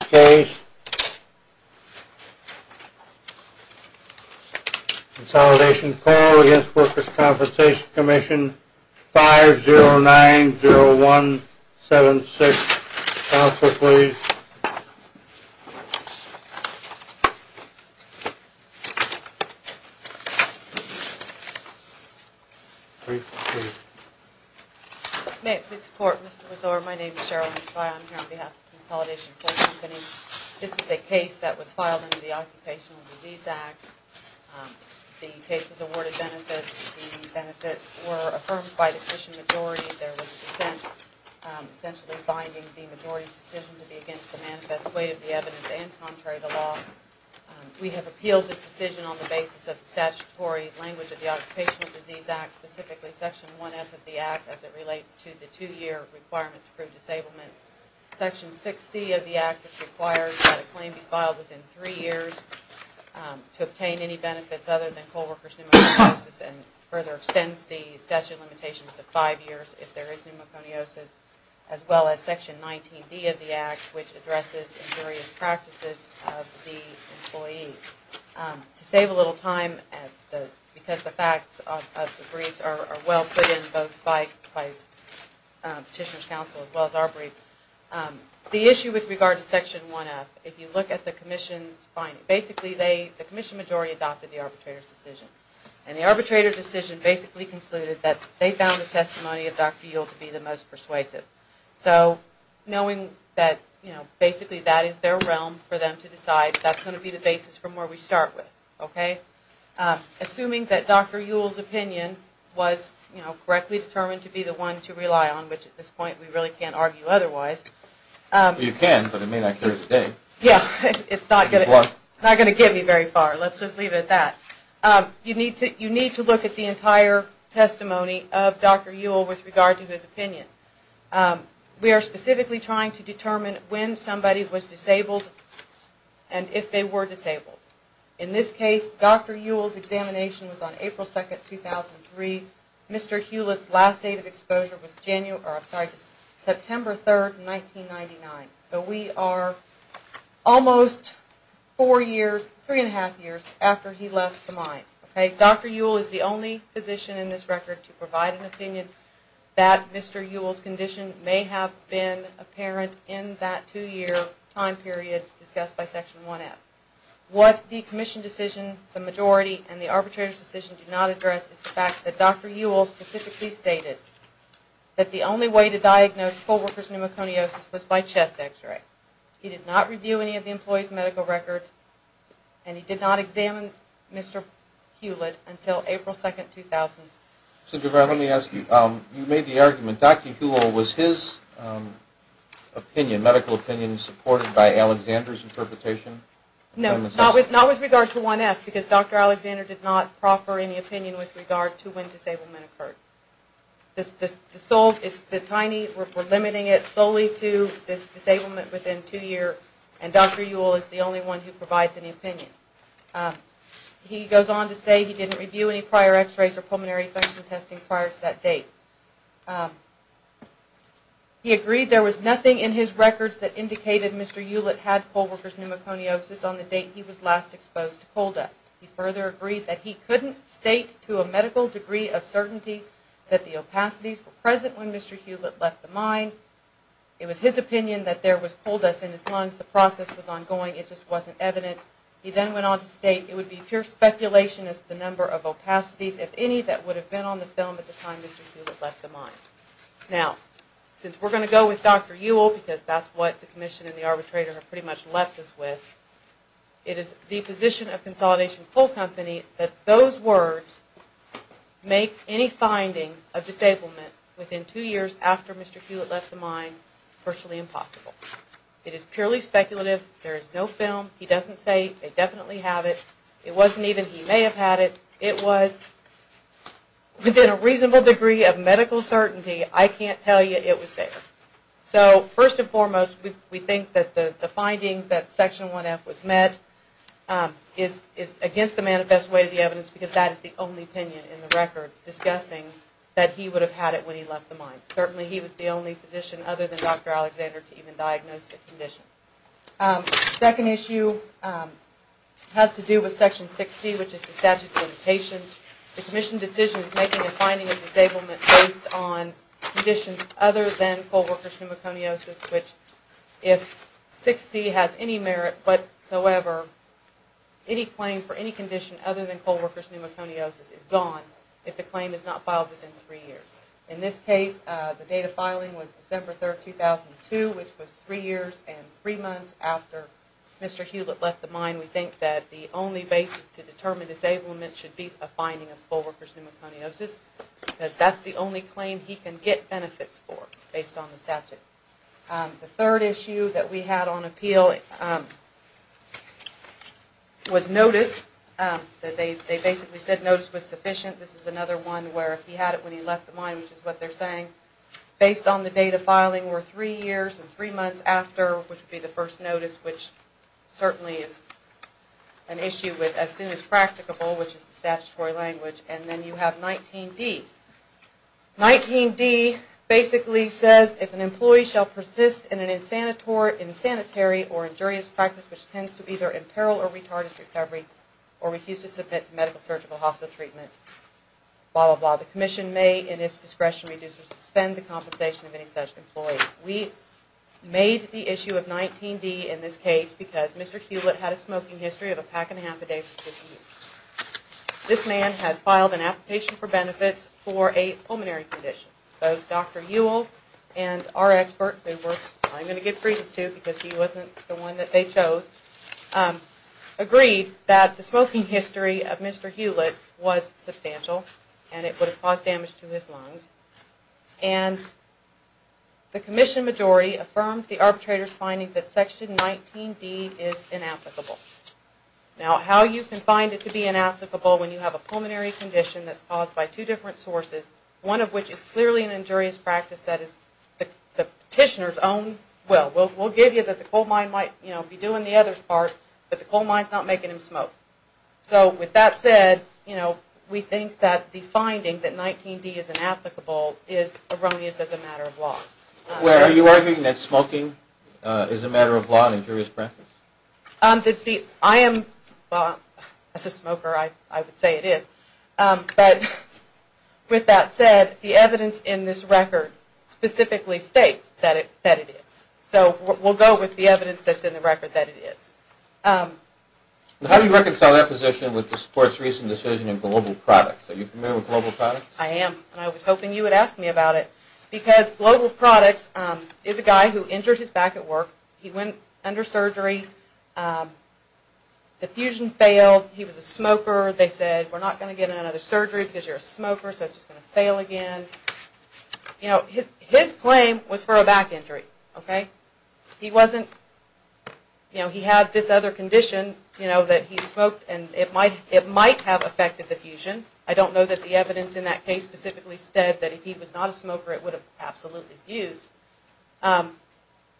5-0-9-0-1-7-6. Counselor, please. May it please the Court, Mr. Besore, my name is Cheryl Henslye. I'm here on behalf of Consolidation Coal Company. This is a case that was filed under the Occupational Disease Act. The case was awarded benefits. The benefits were affirmed by the Christian majority. There was dissent, essentially binding the majority's decision to be against the manifest way of the evidence and contrary to law. We have appealed this decision on the basis of the statutory language of the Occupational Disease Act, specifically Section 1F of the Act as it relates to the Act which requires that a claim be filed within three years to obtain any benefits other than coal workers' pneumoconiosis and further extends the statute of limitations to five years if there is pneumoconiosis as well as Section 19D of the Act which addresses various practices of the employee. To save a little time, because the facts of the briefs are well put in both by Petitioner's Counsel as well as our brief, the issue with regard to Section 1F, if you look at the Commission's finding, basically the Commission majority adopted the arbitrator's decision. And the arbitrator's decision basically concluded that they found the testimony of Dr. Ewell to be the most persuasive. So, knowing that basically that is their realm for them to decide, that's going to be the basis from where we start with, okay? Assuming that Dr. Ewell's opinion was correctly determined to be the one to rely on, which at this point we really can't argue otherwise. You can, but it may not cure today. Yeah, it's not going to get me very far. Let's just leave it at that. You need to look at the entire testimony of Dr. Ewell with regard to his opinion. We are specifically trying to determine when somebody was disabled and if they were disabled. In this case, Dr. Ewell's examination was on April 2, 2003. Mr. Hewlett's last date of exposure was September 3, 1999. So, we are almost four years, three and a half years after he left the mine, okay? Dr. Ewell is the only physician in this record to provide an opinion that was apparent in that two-year time period discussed by Section 1F. What the commission decision, the majority, and the arbitrator's decision do not address is the fact that Dr. Ewell specifically stated that the only way to diagnose full-reference pneumoconiosis was by chest x-ray. He did not review any of the employee's medical records and he did not examine Mr. Hewlett until April 2, 2000. So, Debra, let me ask you, you made the argument, Dr. Ewell, was his opinion, medical opinion supported by Alexander's interpretation? No, not with regard to 1F because Dr. Alexander did not proffer any opinion with regard to when disablement occurred. The tiny, we're limiting it solely to this disablement within two years and Dr. Ewell is the only one who provides any opinion. He goes on to say he prior to that date. He agreed there was nothing in his records that indicated Mr. Hewlett had full-reference pneumoconiosis on the date he was last exposed to coal dust. He further agreed that he couldn't state to a medical degree of certainty that the opacities were present when Mr. Hewlett left the mine. It was his opinion that there was coal dust in his lungs, the process was ongoing, it just wasn't evident. He then went on to state it the number of opacities, if any, that would have been on the film at the time Mr. Hewlett left the mine. Now, since we're going to go with Dr. Ewell because that's what the commission and the arbitrator have pretty much left us with, it is the position of Consolidation Coal Company that those words make any finding of disablement within two years after Mr. Hewlett left the mine virtually impossible. It is purely speculative. There is no film. He doesn't say they definitely have it. It wasn't even he may have had it. It was within a reasonable degree of medical certainty. I can't tell you it was there. So, first and foremost, we think that the finding that Section 1F was met is against the manifest way of the evidence because that is the only opinion in the record discussing that he would have had it when he left the mine. Certainly he was the only physician other than Dr. Alexander to even diagnose the condition. The second issue has to do with Section 6C, which is the statute of limitations. The commission decision is making a finding of disablement based on conditions other than coal worker's pneumoconiosis, which if 6C has any merit whatsoever, any claim for any condition other than coal worker's pneumoconiosis is gone if the claim is not filed within three years. In this case, the date of filing was December 3, 2002, which was three years and three months after Mr. Hewlett left the mine. We think that the only basis to determine disablement should be a finding of coal worker's pneumoconiosis because that is the only claim he can get benefits for based on the statute. The third issue that we had on appeal was notice. They basically said notice was sufficient. This is another one where if he had it when he left the mine, which is what they are saying, based on the date of filing were three years and three months after, which would be the first notice, which certainly is an issue with as soon as practicable, which is the statutory language. Then you have 19D. 19D basically says if an employee shall persist in an insanitary or injurious practice which tends to either imperil or retard his recovery or refuse to submit to medical or surgical hospital treatment, blah, blah, blah. The commission may in its discretion reduce or suspend the compensation of any such employee. We made the issue of 19D in this case because Mr. Hewlett had a smoking history of a pack and a half a day for 50 years. This man has filed an application for benefits for a pulmonary condition. Both Dr. Ewell and our expert, who I am going to give credence to because he wasn't the one that they chose, agreed that the smoking history of Mr. Hewlett was substantial and it would have caused damage to his lungs. And the commission majority affirmed the arbitrator's finding that section 19D is inapplicable. Now how you can find it to be inapplicable when you have a pulmonary condition that's caused by two different sources, one of which is clearly an injurious practice that is the petitioner's own will. We'll give you that the coal mine might be doing the other part, but the coal mine's not making him smoke. So with that said, we think that the finding that 19D is inapplicable is erroneous as a matter of law. Are you arguing that smoking is a matter of law and injurious practice? As a smoker, I would say it is. But with that said, the evidence in this record specifically states that it is. So we'll go with the evidence that's in the record that it is. How do you reconcile that position with this court's recent decision in global products? Are you familiar with global products? I am, and I was hoping you would ask me about it. Because global products is a guy who injured his back at work, he went under surgery, the fusion failed, he was a smoker, they said we're not going to get another surgery because you're a smoker so it's just going to fail again. His claim was for a back injury. He had this other condition that he smoked and it might have affected the fusion. I don't know that the evidence in that case specifically said that if he was not a smoker it would have absolutely fused.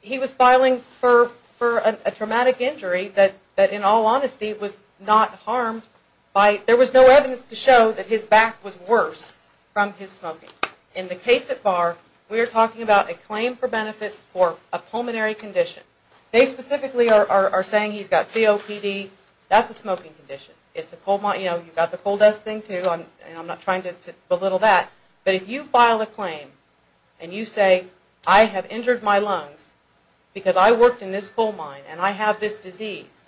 He was filing for a traumatic injury that in all honesty was not harmed. There was no evidence to show that his back was worse from his smoking. In the case at Barr, we are talking about a claim for benefits for a pulmonary condition. They specifically are saying he's got COPD, that's a smoking condition. You've got the coal dust thing too, I'm not trying to belittle that. But if you file a claim and you say I have injured my lungs because I worked in this coal mine and I have this disease,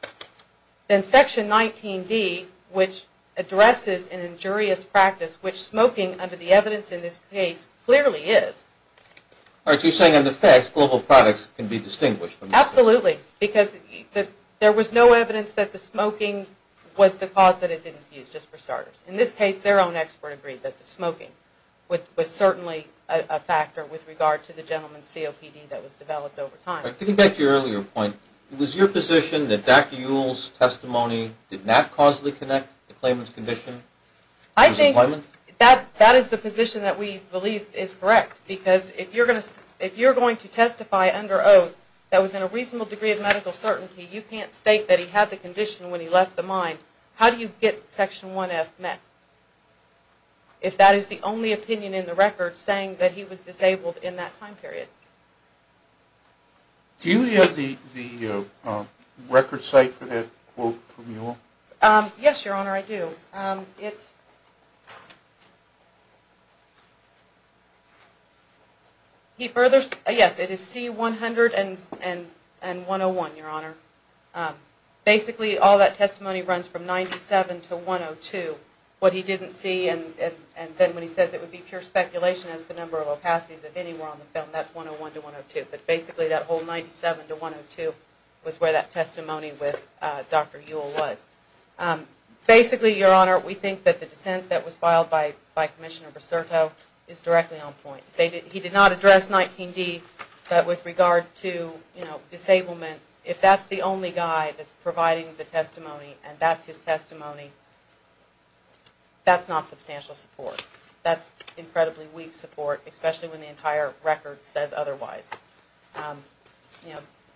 then section 19D which addresses an injurious practice, which smoking under the evidence in this case clearly is. All right, so you're saying under facts global products can be distinguished. Absolutely, because there was no evidence that the smoking was the cause that it didn't fuse, just for starters. In this case their own expert agreed that the smoking was certainly a factor with regard to the gentleman's COPD that was developed over time. Getting back to your earlier point, was your position that Dr. Ewell's testimony did not causally connect the claimant's condition to his employment? I think that is the position that we believe is correct, because if you're going to testify under oath that within a reasonable degree of medical certainty you can't state that he had the condition when he left the mine, how do you get section 1F met? If that is the only opinion in the record saying that he was disabled in that time period. Do you have the record site for that quote from Ewell? Yes, Your Honor, I do. Yes, it is C100 and 101, Your Honor. Basically all that testimony runs from 97 to 102. What he didn't see, and then when he says it would be pure speculation as to the number of opacities, if any were on the film, that's 101 to 102. But basically that whole 97 to 102 was where that testimony with Dr. Ewell was. Basically, Your Honor, we think that the dissent that was filed by Commissioner Bracerto is directly on point. He did not address 19D, but with regard to disablement, if that's the only guy that's providing the testimony, and that's his testimony, that's not substantial support. That's incredibly weak support, especially when the entire record says otherwise.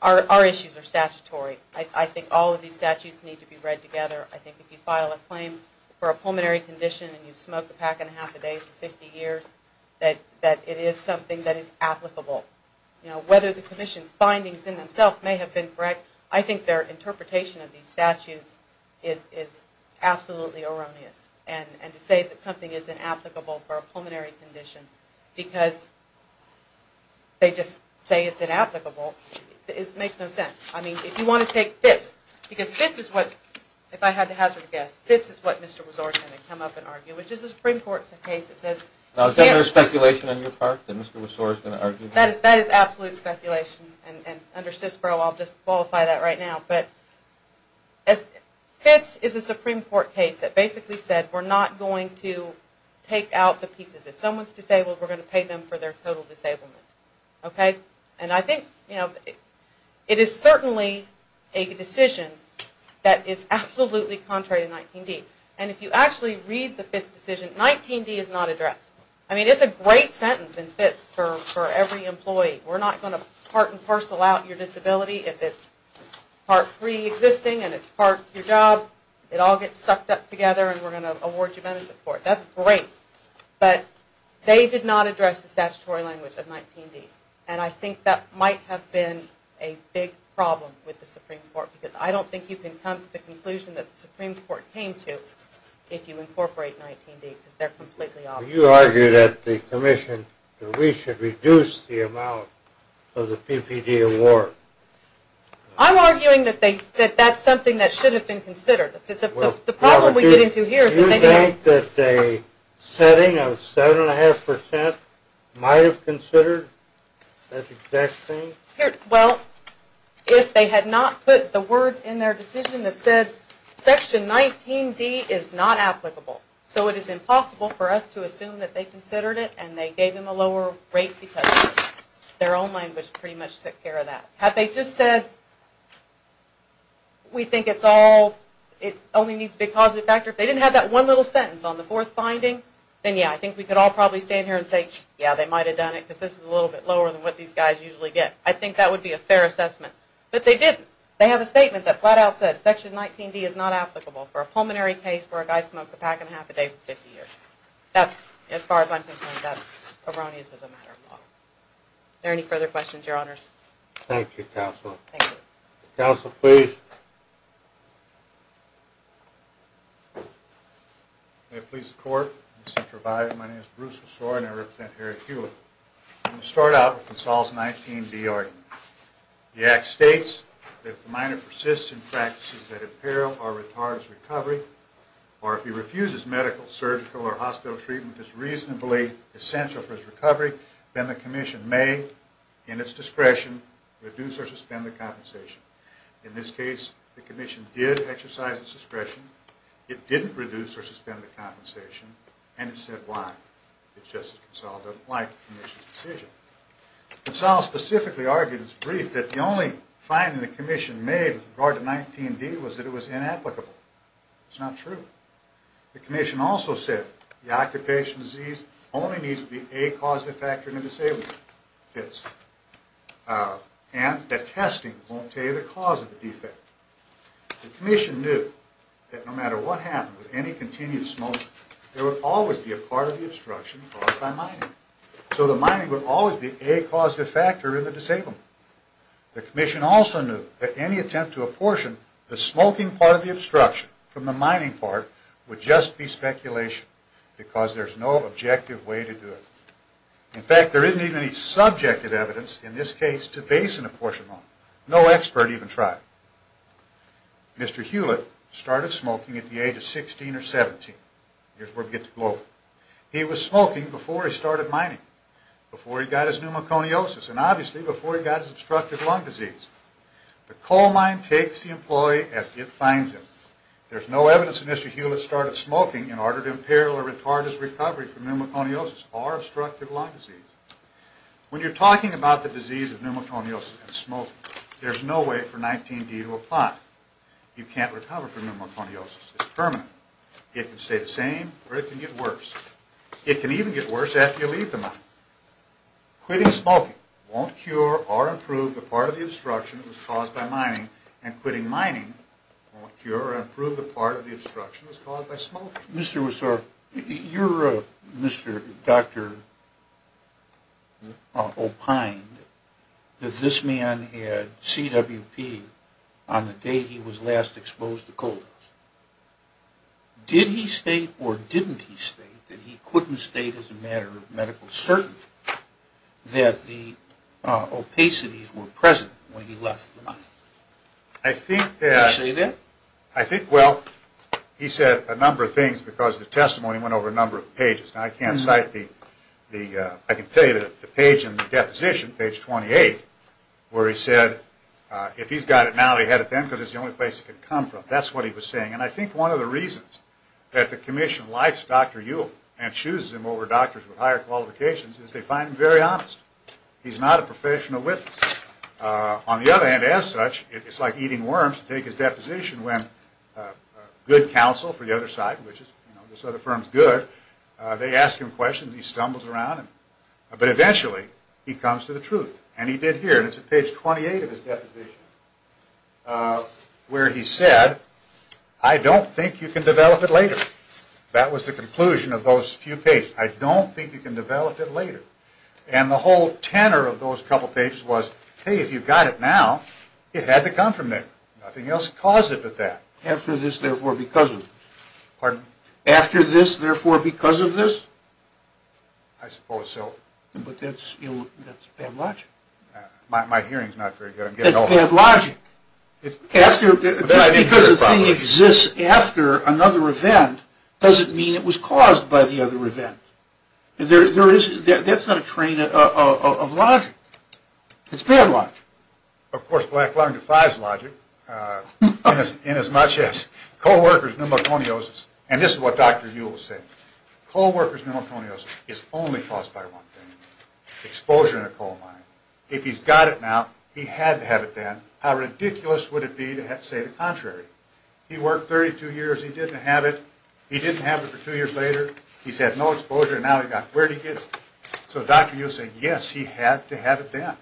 Our issues are statutory. I think all of these statutes need to be read together. I think if you file a claim for a pulmonary condition and you smoke a pack and a half a day for 50 years, that it is something that is applicable. Whether the Commission's findings in themselves may have been correct, I think their interpretation of these statutes is absolutely erroneous. And to say that something is inapplicable for a pulmonary condition because they just say it's inapplicable, it makes no sense. I mean, if you want to take FITS, because FITS is what, if I had to hazard a guess, FITS is what Mr. Resor is going to come up and argue, which is a Supreme Court case. Is there speculation on your part that Mr. Resor is going to argue that? That is absolute speculation, and under CISPRO I'll just qualify that right now. But FITS is a Supreme Court case that basically said we're not going to take out the pieces. If someone's disabled, we're going to pay them for their total disablement. Okay? And I think, you know, it is certainly a decision that is absolutely contrary to 19D. And if you actually read the FITS decision, 19D is not addressed. I mean, it's a great sentence in FITS for every employee. We're not going to part and parcel out your disability. If it's part preexisting and it's part your job, it all gets sucked up together and we're going to award you benefits for it. That's great. But they did not address the statutory language of 19D. And I think that might have been a big problem with the Supreme Court because I don't think you can come to the conclusion that the Supreme Court came to if you incorporate 19D because they're completely obvious. You argued at the commission that we should reduce the amount of the PPD award. I'm arguing that that's something that should have been considered. The problem we get into here is that they didn't. Do you think that a setting of 7.5% might have considered that exact thing? Well, if they had not put the words in their decision that said Section 19D is not applicable. So it is impossible for us to assume that they considered it and they gave them a lower rate because their own language pretty much took care of that. Had they just said, we think it's all, it only needs to be a positive factor. If they didn't have that one little sentence on the fourth finding, then yeah, I think we could all probably stand here and say, yeah, they might have done it because this is a little bit lower than what these guys usually get. I think that would be a fair assessment. But they didn't. They have a statement that flat out says Section 19D is not applicable for a pulmonary case where a guy smokes a pack and a half a day for 50 years. That's, as far as I'm concerned, that's erroneous as a matter of law. Are there any further questions, your honors? Thank you, counsel. Thank you. Counsel, please. May it please the court. My name is Bruce LaSore and I represent Harry Hewitt. I'm going to start out with Consol's 19D argument. The act states that if the minor persists in practices that imperil or retard his recovery, or if he refuses medical, surgical, or hospital treatment that's reasonably essential for his recovery, then the commission may, in its discretion, reduce or suspend the compensation. In this case, the commission did exercise its discretion. It didn't reduce or suspend the compensation, and it said why. It's just that Consol doesn't like the commission's decision. Consol specifically argued in his brief that the only finding the commission made with regard to 19D was that it was inapplicable. It's not true. The commission also said the occupational disease only needs to be a causative factor in a disabled case, and that testing won't tell you the cause of the defect. The commission knew that no matter what happened with any continued smoking, there would always be a part of the obstruction caused by mining. So the mining would always be a causative factor in the disabled. The commission also knew that any attempt to apportion the smoking part of the obstruction from the mining part would just be speculation, because there's no objective way to do it. In fact, there isn't even any subjective evidence in this case to base an apportionment on. No expert even tried. Mr. Hewlett started smoking at the age of 16 or 17. Here's where we get to global. He was smoking before he started mining, before he got his pneumoconiosis, and obviously before he got his obstructive lung disease. The coal mine takes the employee as it finds him. There's no evidence that Mr. Hewlett started smoking in order to imperil or retard his recovery from pneumoconiosis or obstructive lung disease. When you're talking about the disease of pneumoconiosis and smoking, there's no way for 19D to apply. You can't recover from pneumoconiosis. It's permanent. It can stay the same or it can get worse. It can even get worse after you leave the mine. Quitting smoking won't cure or improve the part of the obstruction that was caused by mining, and quitting mining won't cure or improve the part of the obstruction that was caused by smoking. Mr. Wessor, you're a doctor opined that this man had CWP on the day he was last exposed to coal dust. Did he state or didn't he state that he couldn't state as a matter of medical certainty that the opacities were present when he left the mine? I think that... Did he say that? I think, well, he said a number of things because the testimony went over a number of pages. Now, I can't cite the... I can tell you that the page in the deposition, page 28, where he said, if he's got it now, he had it then because it's the only place he could come from. That's what he was saying. And I think one of the reasons that the commission likes Dr. Ewell and chooses him over doctors with higher qualifications is they find him very honest. He's not a professional witness. On the other hand, as such, it's like eating worms to take his deposition when good counsel for the other side, which is, you know, this other firm's good, they ask him questions, he stumbles around, but eventually he comes to the truth. And he did here, and it's at page 28 of his deposition, where he said, I don't think you can develop it later. That was the conclusion of those few pages. I don't think you can develop it later. And the whole tenor of those couple pages was, hey, if you've got it now, it had to come from there. Nothing else caused it but that. After this, therefore, because of this. Pardon? After this, therefore, because of this. I suppose so. But that's, you know, that's bad logic. My hearing's not very good. It's bad logic. Just because a thing exists after another event doesn't mean it was caused by the other event. There is, that's not a train of logic. It's bad logic. Of course, black lung defies logic in as much as co-workers' pneumoconiosis, and this is what Dr. Ewell said, co-workers' pneumoconiosis is only caused by one thing, exposure in a coal mine. If he's got it now, he had to have it then, how ridiculous would it be to say the contrary? He worked 32 years, he didn't have it, he didn't have it for two years later, he's had no exposure, and now he's got it. Where did he get it? So Dr. Ewell said, yes, he had to have it then.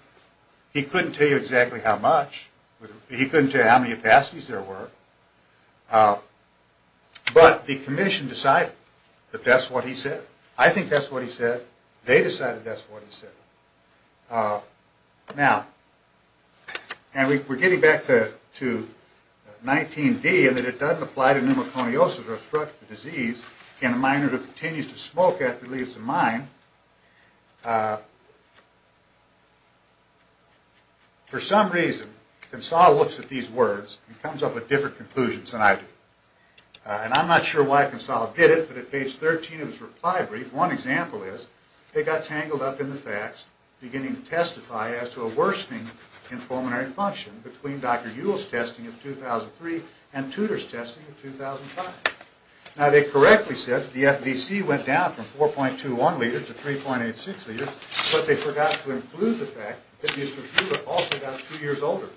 He couldn't tell you exactly how much. He couldn't tell you how many capacities there were. But the commission decided that that's what he said. I think that's what he said. They decided that's what he said. Now, and we're getting back to 19-D, and that it doesn't apply to pneumoconiosis or obstructive disease in a miner who continues to smoke after he leaves the mine. For some reason, Consall looks at these words and comes up with different conclusions than I do. And I'm not sure why Consall did it, but at page 13 of his reply brief, one example is, they got tangled up in the facts, beginning to testify as to a worsening in pulmonary function between Dr. Ewell's testing in 2003 and Tudor's testing in 2005. Now, they correctly said that the FVC went down from 4.21 liters to 3.86 liters, but they forgot to include the fact that Mr. Tudor also got two years older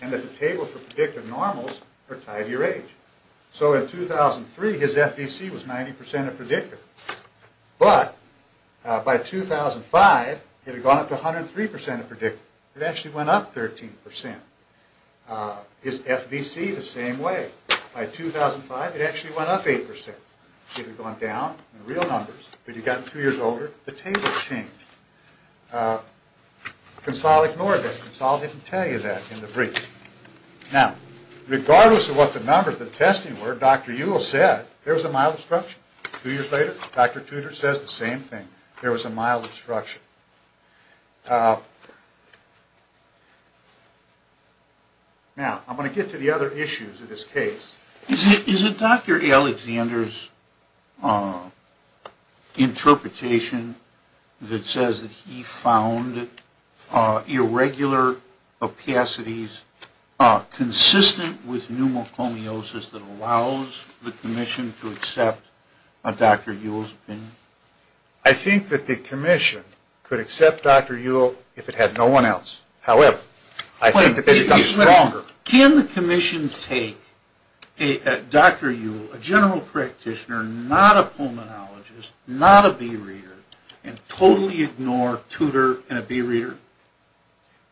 and that the table for predictive normals are tied to your age. So in 2003, his FVC was 90% of predictive. But by 2005, it had gone up to 103% of predictive. It actually went up 13%. His FVC, the same way. By 2005, it actually went up 8%. It had gone down in real numbers. But he'd gotten two years older. The tables changed. Consall ignored that. Consall didn't tell you that in the brief. Now, regardless of what the numbers of testing were, Dr. Ewell said, there was a mild obstruction. Two years later, Dr. Tudor says the same thing. There was a mild obstruction. Now, I'm going to get to the other issues of this case. Is it Dr. Alexander's interpretation that says that he found irregular opacities consistent with the commission to accept Dr. Ewell's opinion? I think that the commission could accept Dr. Ewell if it had no one else. However, I think that they've become stronger. Can the commission take Dr. Ewell, a general practitioner, not a pulmonologist, not a bee reader, and totally ignore Tudor and a bee reader?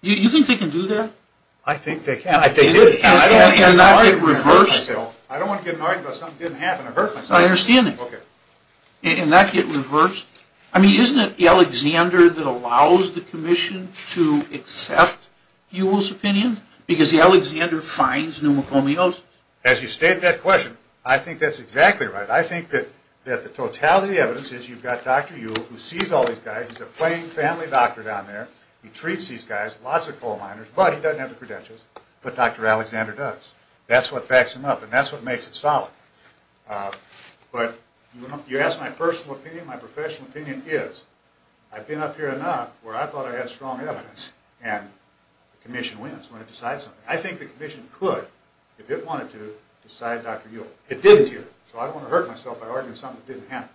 You think they can do that? I think they can. And not get reversed? I don't want to get annoyed about something that didn't happen. It hurts my feelings. My understanding. Okay. And not get reversed? I mean, isn't it Alexander that allows the commission to accept Ewell's opinion? Because Alexander finds pneumocomials. As you state that question, I think that's exactly right. I think that the totality of the evidence is you've got Dr. Ewell who sees all these guys. He's a plain family doctor down there. He treats these guys, lots of coal miners, but he doesn't have the credentials. But Dr. Alexander does. That's what backs him up. And that's what makes it solid. But you ask my personal opinion, my professional opinion is I've been up here enough where I thought I had strong evidence and the commission wins when it decides something. I think the commission could, if it wanted to, decide Dr. Ewell. It didn't here. So I don't want to hurt myself by arguing something that didn't happen.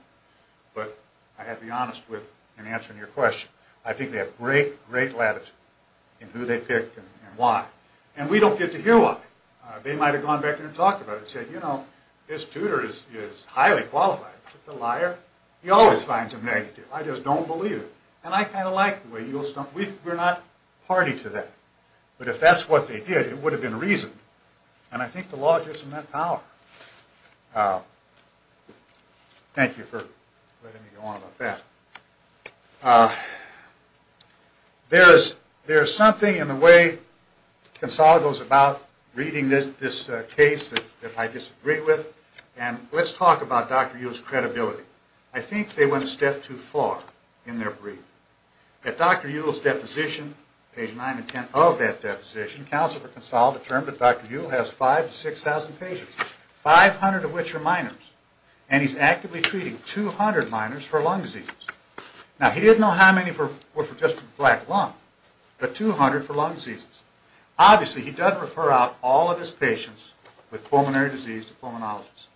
But I have to be honest with in answering your question. I think they have great, great latitude in who they pick and why. And we don't get to hear why. They might have gone back there and talked about it and said, you know, this tutor is highly qualified, but the liar, he always finds a negative. I just don't believe it. And I kind of like the way Ewell's done it. We're not party to that. But if that's what they did, it would have been reasoned. And I think the law gives them that power. Thank you for letting me go on about that. There is something in the way Consalgo is about reading this case that I disagree with. And let's talk about Dr. Ewell's credibility. I think they went a step too far in their brief. At Dr. Ewell's deposition, page 9 and 10 of that deposition, counsel for Consalgo determined that Dr. Ewell has 5,000 to 6,000 patients, 500 of which are minors. And he's actively treating 200 minors for lung diseases. Now, he didn't know how many were just for the black lung, but 200 for lung diseases. Obviously, he doesn't refer out all of his patients with pulmonary disease to pulmonologists.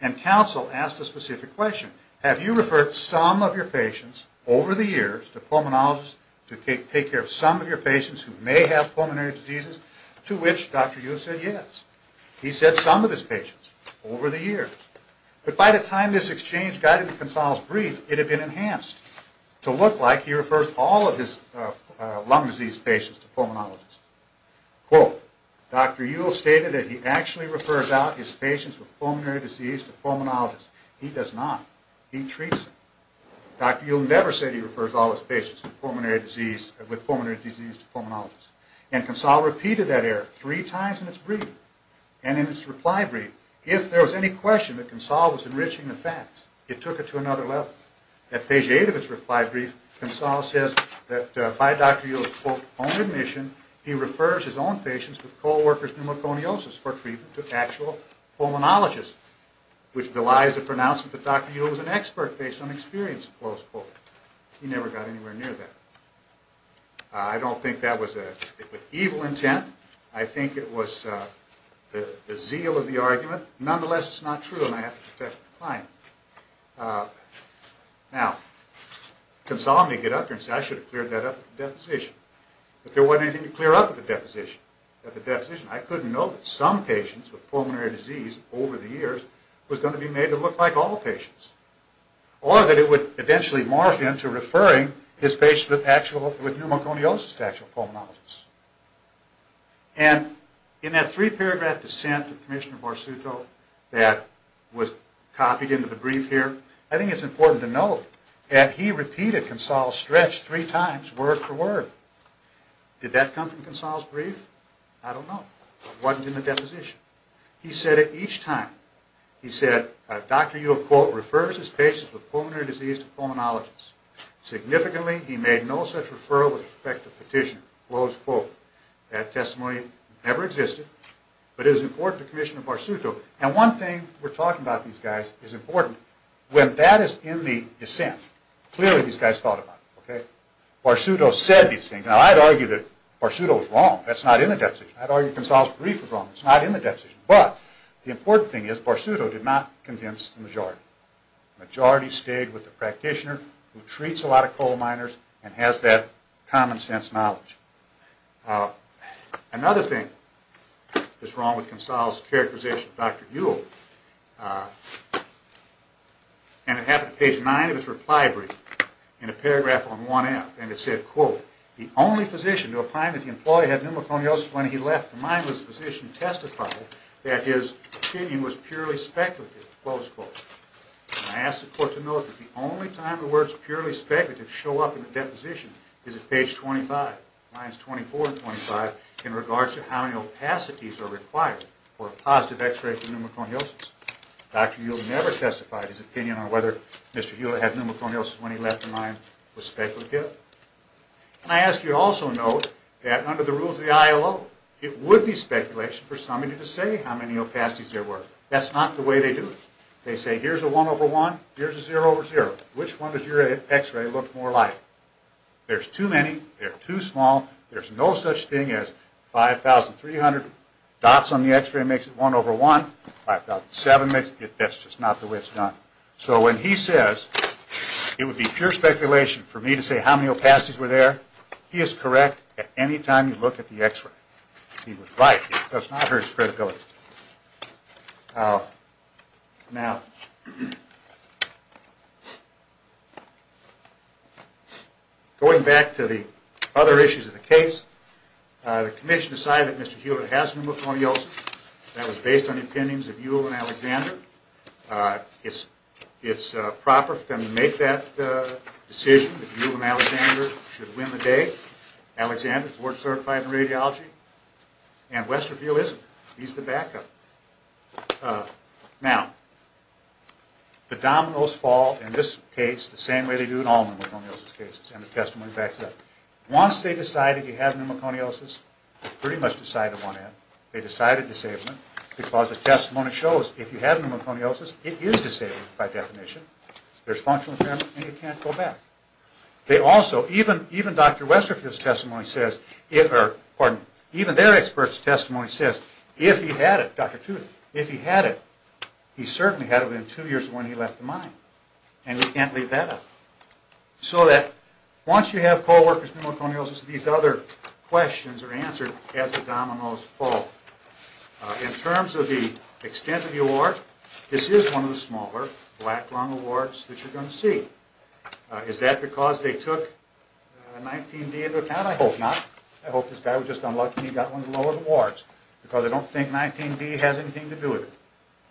And counsel asked a specific question. Have you referred some of your patients over the years to pulmonologists to take care of some of your patients who may have pulmonary diseases? To which Dr. Ewell said yes. He said some of his patients over the years. But by the time this exchange got into Consalgo's brief, it had been enhanced to look like he referred all of his lung disease patients to pulmonologists. Quote, Dr. Ewell stated that he actually refers out his patients with pulmonary disease to pulmonologists. He does not. He treats them. Dr. Ewell never said he refers all his patients with pulmonary disease to pulmonologists. And Consalgo repeated that error three times in its brief and in its reply brief. If there was any question that Consalgo was enriching the facts, it took it to another level. At page 8 of its reply brief, Consalgo says that by Dr. Ewell's quote, own admission, he refers his own patients with co-workers pneumoconiosis for treatment to actual pulmonologists, which belies the pronouncement that Dr. Ewell was an expert based on experience, close quote. He never got anywhere near that. I don't think that was with evil intent. I think it was the zeal of the argument. Nonetheless, it's not true, and I have to protect my client. Now, Consalgo may get up there and say, I should have cleared that up at the deposition. But there wasn't anything to clear up at the deposition. I couldn't know that some patients with pulmonary disease over the years was going to be made to look like all patients, or that it would eventually morph into referring his patients with pneumoconiosis to actual pulmonologists. And in that three-paragraph dissent with Commissioner Barsuto that was copied into the brief here, I think it's important to note that he repeated Consalgo's stretch three times, word for word. Did that come from Consalgo's brief? I don't know. It wasn't in the deposition. He said it each time. He said, Dr. Ewell, quote, refers his patients with pulmonary disease to pulmonologists. Significantly, he made no such referral with respect to petitioner, close quote. That testimony never existed, but it was important to Commissioner Barsuto. And one thing we're talking about, these guys, is important. When that is in the dissent, clearly these guys thought about it, okay? Barsuto said these things. Now, I'd argue that Barsuto was wrong. That's not in the deposition. I'd argue Consalgo's brief was wrong. It's not in the deposition. But the important thing is Barsuto did not convince the majority. The majority stayed with the practitioner who treats a lot of coal miners and has that common sense knowledge. Another thing that's wrong with Consalgo's characterization of Dr. Ewell, and it happened at page 9 of his reply brief, in a paragraph on 1F, and it said, quote, the only physician to opine that the employee had pneumoconiosis when he left the mine was a physician who testified that his opinion was purely speculative, close quote. And I ask the court to note that the only time the words purely speculative show up in the deposition is at page 25, lines 24 and 25, in regards to how many opacities are required for a positive x-ray for pneumoconiosis. Dr. Ewell never testified his opinion on whether Mr. Ewell had pneumoconiosis when he left the mine was speculative. And I ask you to also note that under the rules of the ILO, it would be speculation for somebody to say how many opacities there were. That's not the way they do it. They say here's a 1 over 1, here's a 0 over 0. Which one does your x-ray look more like? There's too many. They're too small. There's no such thing as 5,300 dots on the x-ray makes it 1 over 1. 5,700 makes it. That's just not the way it's done. So when he says it would be pure speculation for me to say how many opacities were there, he is correct at any time you look at the x-ray. He was right. It does not hurt his credibility. Now, going back to the other issues of the case, the commission decided that Mr. Ewell has pneumoconiosis. That was based on the opinions of Ewell and Alexander. It's proper for them to make that decision. Ewell and Alexander should win the day. Alexander, board certified in radiology, and Westerfield isn't. He's the backup. Now, the dominoes fall in this case the same way they do in all pneumoconiosis cases, and the testimony backs it up. Once they decided you have pneumoconiosis, they pretty much decided on that. They decided disablement because the testimony shows if you have pneumoconiosis, it is disabled by definition. There's functional impairment, and you can't go back. They also, even Dr. Westerfield's testimony says, or even their expert's testimony says if he had it, Dr. Tudor, if he had it, he certainly had it within two years of when he left the mine, and we can't leave that up. So that once you have co-workers' pneumoconiosis, these other questions are answered as the dominoes fall. In terms of the extent of the award, this is one of the smaller black lung awards that you're going to see. Is that because they took 19-D into account? I hope not. I hope this guy was just unlucky and he got one of the lower awards because I don't think 19-D has anything to do with it.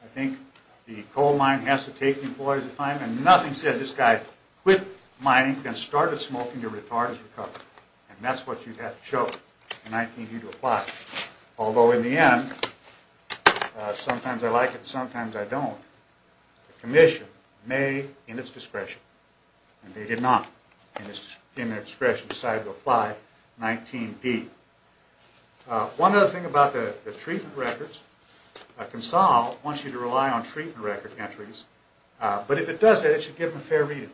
I think the coal mine has to take the employees to find them. Nothing says this guy quit mining and started smoking. You're retarded. He's recovered. And that's what you have to show for 19-D to apply. Although in the end, sometimes I like it and sometimes I don't. The commission made in its discretion, and they did not in their discretion decide to apply 19-D. One other thing about the treatment records, Consol wants you to rely on treatment record entries, but if it does that, it should give them a fair reading.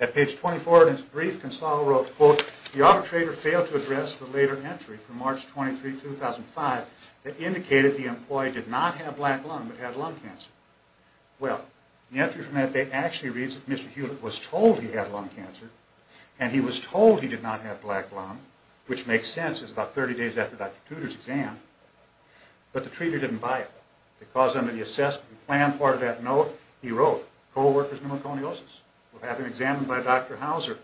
At page 24 in his brief, Consol wrote, quote, the arbitrator failed to address the later entry from March 23, 2005 that indicated the employee did not have black lung but had lung cancer. Well, the entry from that day actually reads that Mr. Hewlett was told he had lung cancer and he was told he did not have black lung, which makes sense. It's about 30 days after Dr. Tudor's exam. But the treater didn't buy it. Because under the assessment plan part of that note, he wrote, co-worker's pneumoconiosis will have him examined by Dr. Hauser.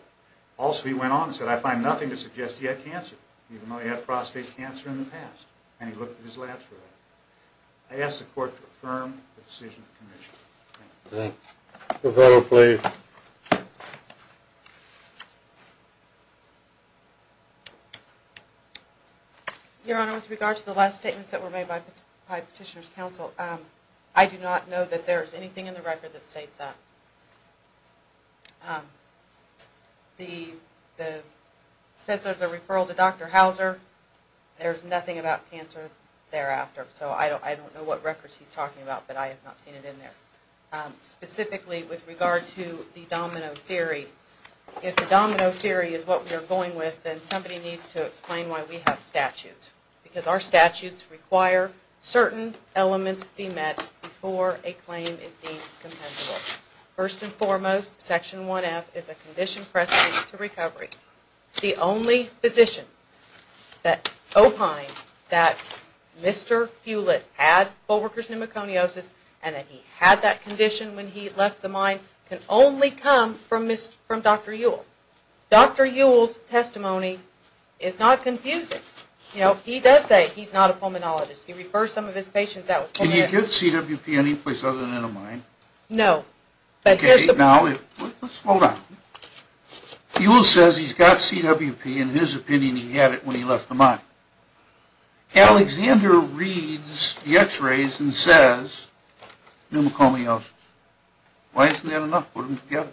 Also, he went on and said, I find nothing to suggest he had cancer, even though he had prostate cancer in the past. And he looked at his labs for that. I ask the court to affirm the decision of the commission. Thank you. The federal, please. Your Honor, with regard to the last statements that were made by Petitioner's Counsel, I do not know that there is anything in the record that states that. It says there's a referral to Dr. Hauser. There's nothing about cancer thereafter. So I don't know what records he's talking about, but I have not seen it in there. Specifically, with regard to the domino theory, if the domino theory is what we are going with, then somebody needs to explain why we have statutes. Because our statutes require certain elements be met before a claim is deemed compendial. First and foremost, Section 1F is a condition pressing to recovery. The only physician that opined that Mr. Hewlett had full workers' pneumoconiosis and that he had that condition when he left the mine can only come from Dr. Ewell. Dr. Ewell's testimony is not confusing. He does say he's not a pulmonologist. He refers some of his patients out. Can you get CWP any place other than in a mine? No. Okay, now let's slow down. Ewell says he's got CWP, and in his opinion he had it when he left the mine. Alexander reads the x-rays and says pneumoconiosis. Why isn't that enough? Put them together.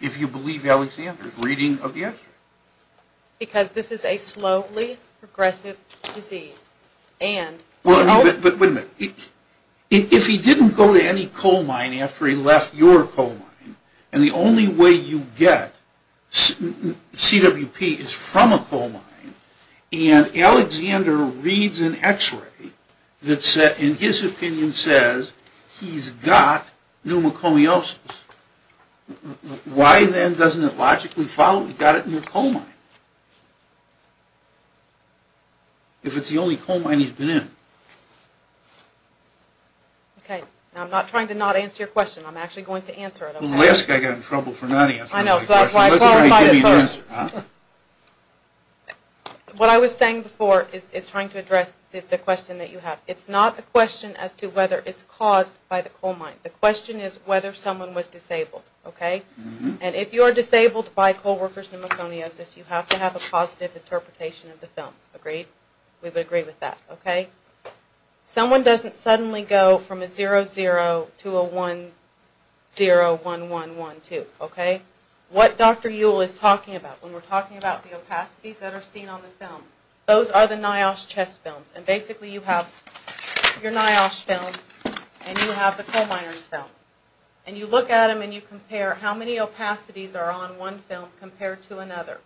If you believe Alexander's reading of the x-rays. Because this is a slowly progressive disease. But wait a minute. If he didn't go to any coal mine after he left your coal mine, and the only way you get CWP is from a coal mine, and Alexander reads an x-ray that in his opinion says he's got pneumoconiosis, why then doesn't it logically follow he got it in a coal mine? If it's the only coal mine he's been in. Okay, now I'm not trying to not answer your question. I'm actually going to answer it. Well, the last guy got in trouble for not answering my question. I know, so that's why I qualified it first. Let the guy give you the answer, huh? What I was saying before is trying to address the question that you have. It's not a question as to whether it's caused by the coal mine. The question is whether someone was disabled, okay? And if you are disabled by co-workers' pneumoconiosis, you have to have a positive interpretation of the film. Agreed? We would agree with that, okay? Someone doesn't suddenly go from a 0-0 to a 1-0, 1-1, 1-2, okay? What Dr. Ewell is talking about when we're talking about the opacities that are seen on the film, those are the NIOSH chest films. And basically you have your NIOSH film and you have the coal miner's film. And you look at them and you compare how many opacities are on one film compared to another.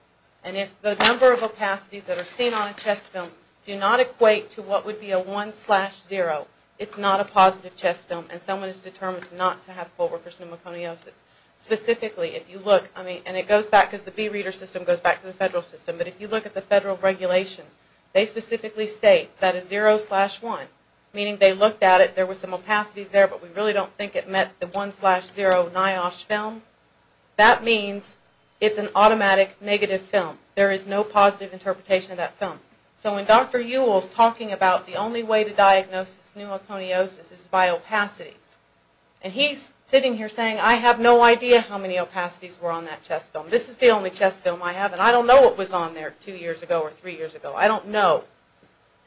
And if the number of opacities that are seen on a chest film do not equate to what would be a 1-0, it's not a positive chest film and someone is determined not to have co-workers' pneumoconiosis. Specifically, if you look, I mean, and it goes back, because the B Reader system goes back to the federal system, but if you look at the federal regulations, they specifically state that a 0-1, meaning they looked at it, there were some opacities there, but we really don't think it met the 1-0 NIOSH film. That means it's an automatic negative film. There is no positive interpretation of that film. So when Dr. Ewell is talking about the only way to diagnose pneumoconiosis is by opacities, and he's sitting here saying, I have no idea how many opacities were on that chest film. This is the only chest film I have, and I don't know what was on there two years ago or three years ago. I don't know.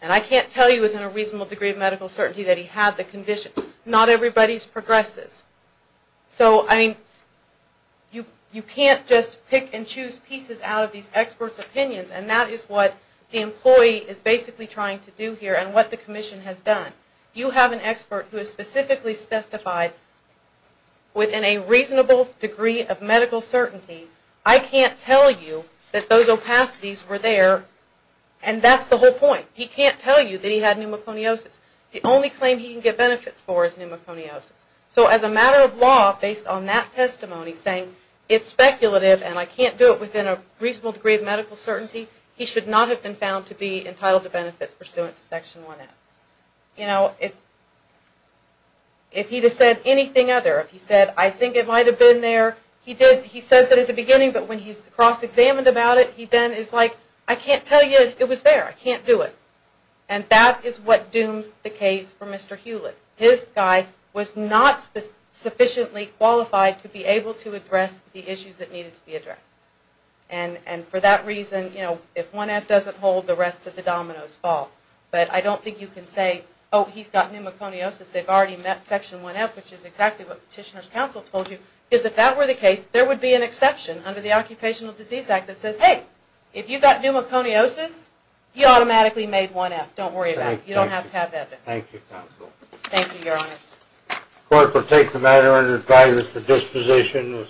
And I can't tell you within a reasonable degree of medical certainty that he had the condition. Not everybody progresses. So, I mean, you can't just pick and choose pieces out of these experts' opinions, and that is what the employee is basically trying to do here and what the commission has done. You have an expert who has specifically testified within a reasonable degree of medical certainty. I can't tell you that those opacities were there, and that's the whole point. He can't tell you that he had pneumoconiosis. The only claim he can get benefits for is pneumoconiosis. So as a matter of law, based on that testimony, saying it's speculative and I can't do it within a reasonable degree of medical certainty, he should not have been found to be entitled to benefits pursuant to Section 1F. You know, if he had said anything other, if he said, I think it might have been there, he says it at the beginning, but when he's cross-examined about it, he then is like, I can't tell you it was there. I can't do it. And that is what dooms the case for Mr. Hewlett. His guy was not sufficiently qualified to be able to address the issues that needed to be addressed. And for that reason, you know, if 1F doesn't hold, the rest of the dominoes fall. But I don't think you can say, oh, he's got pneumoconiosis. They've already met Section 1F, which is exactly what Petitioner's Counsel told you, because if that were the case, there would be an exception under the Occupational Disease Act that says, hey, if you've got pneumoconiosis, you automatically made 1F. Don't worry about it. You don't have to have that. Thank you, Counsel. Thank you, Your Honors.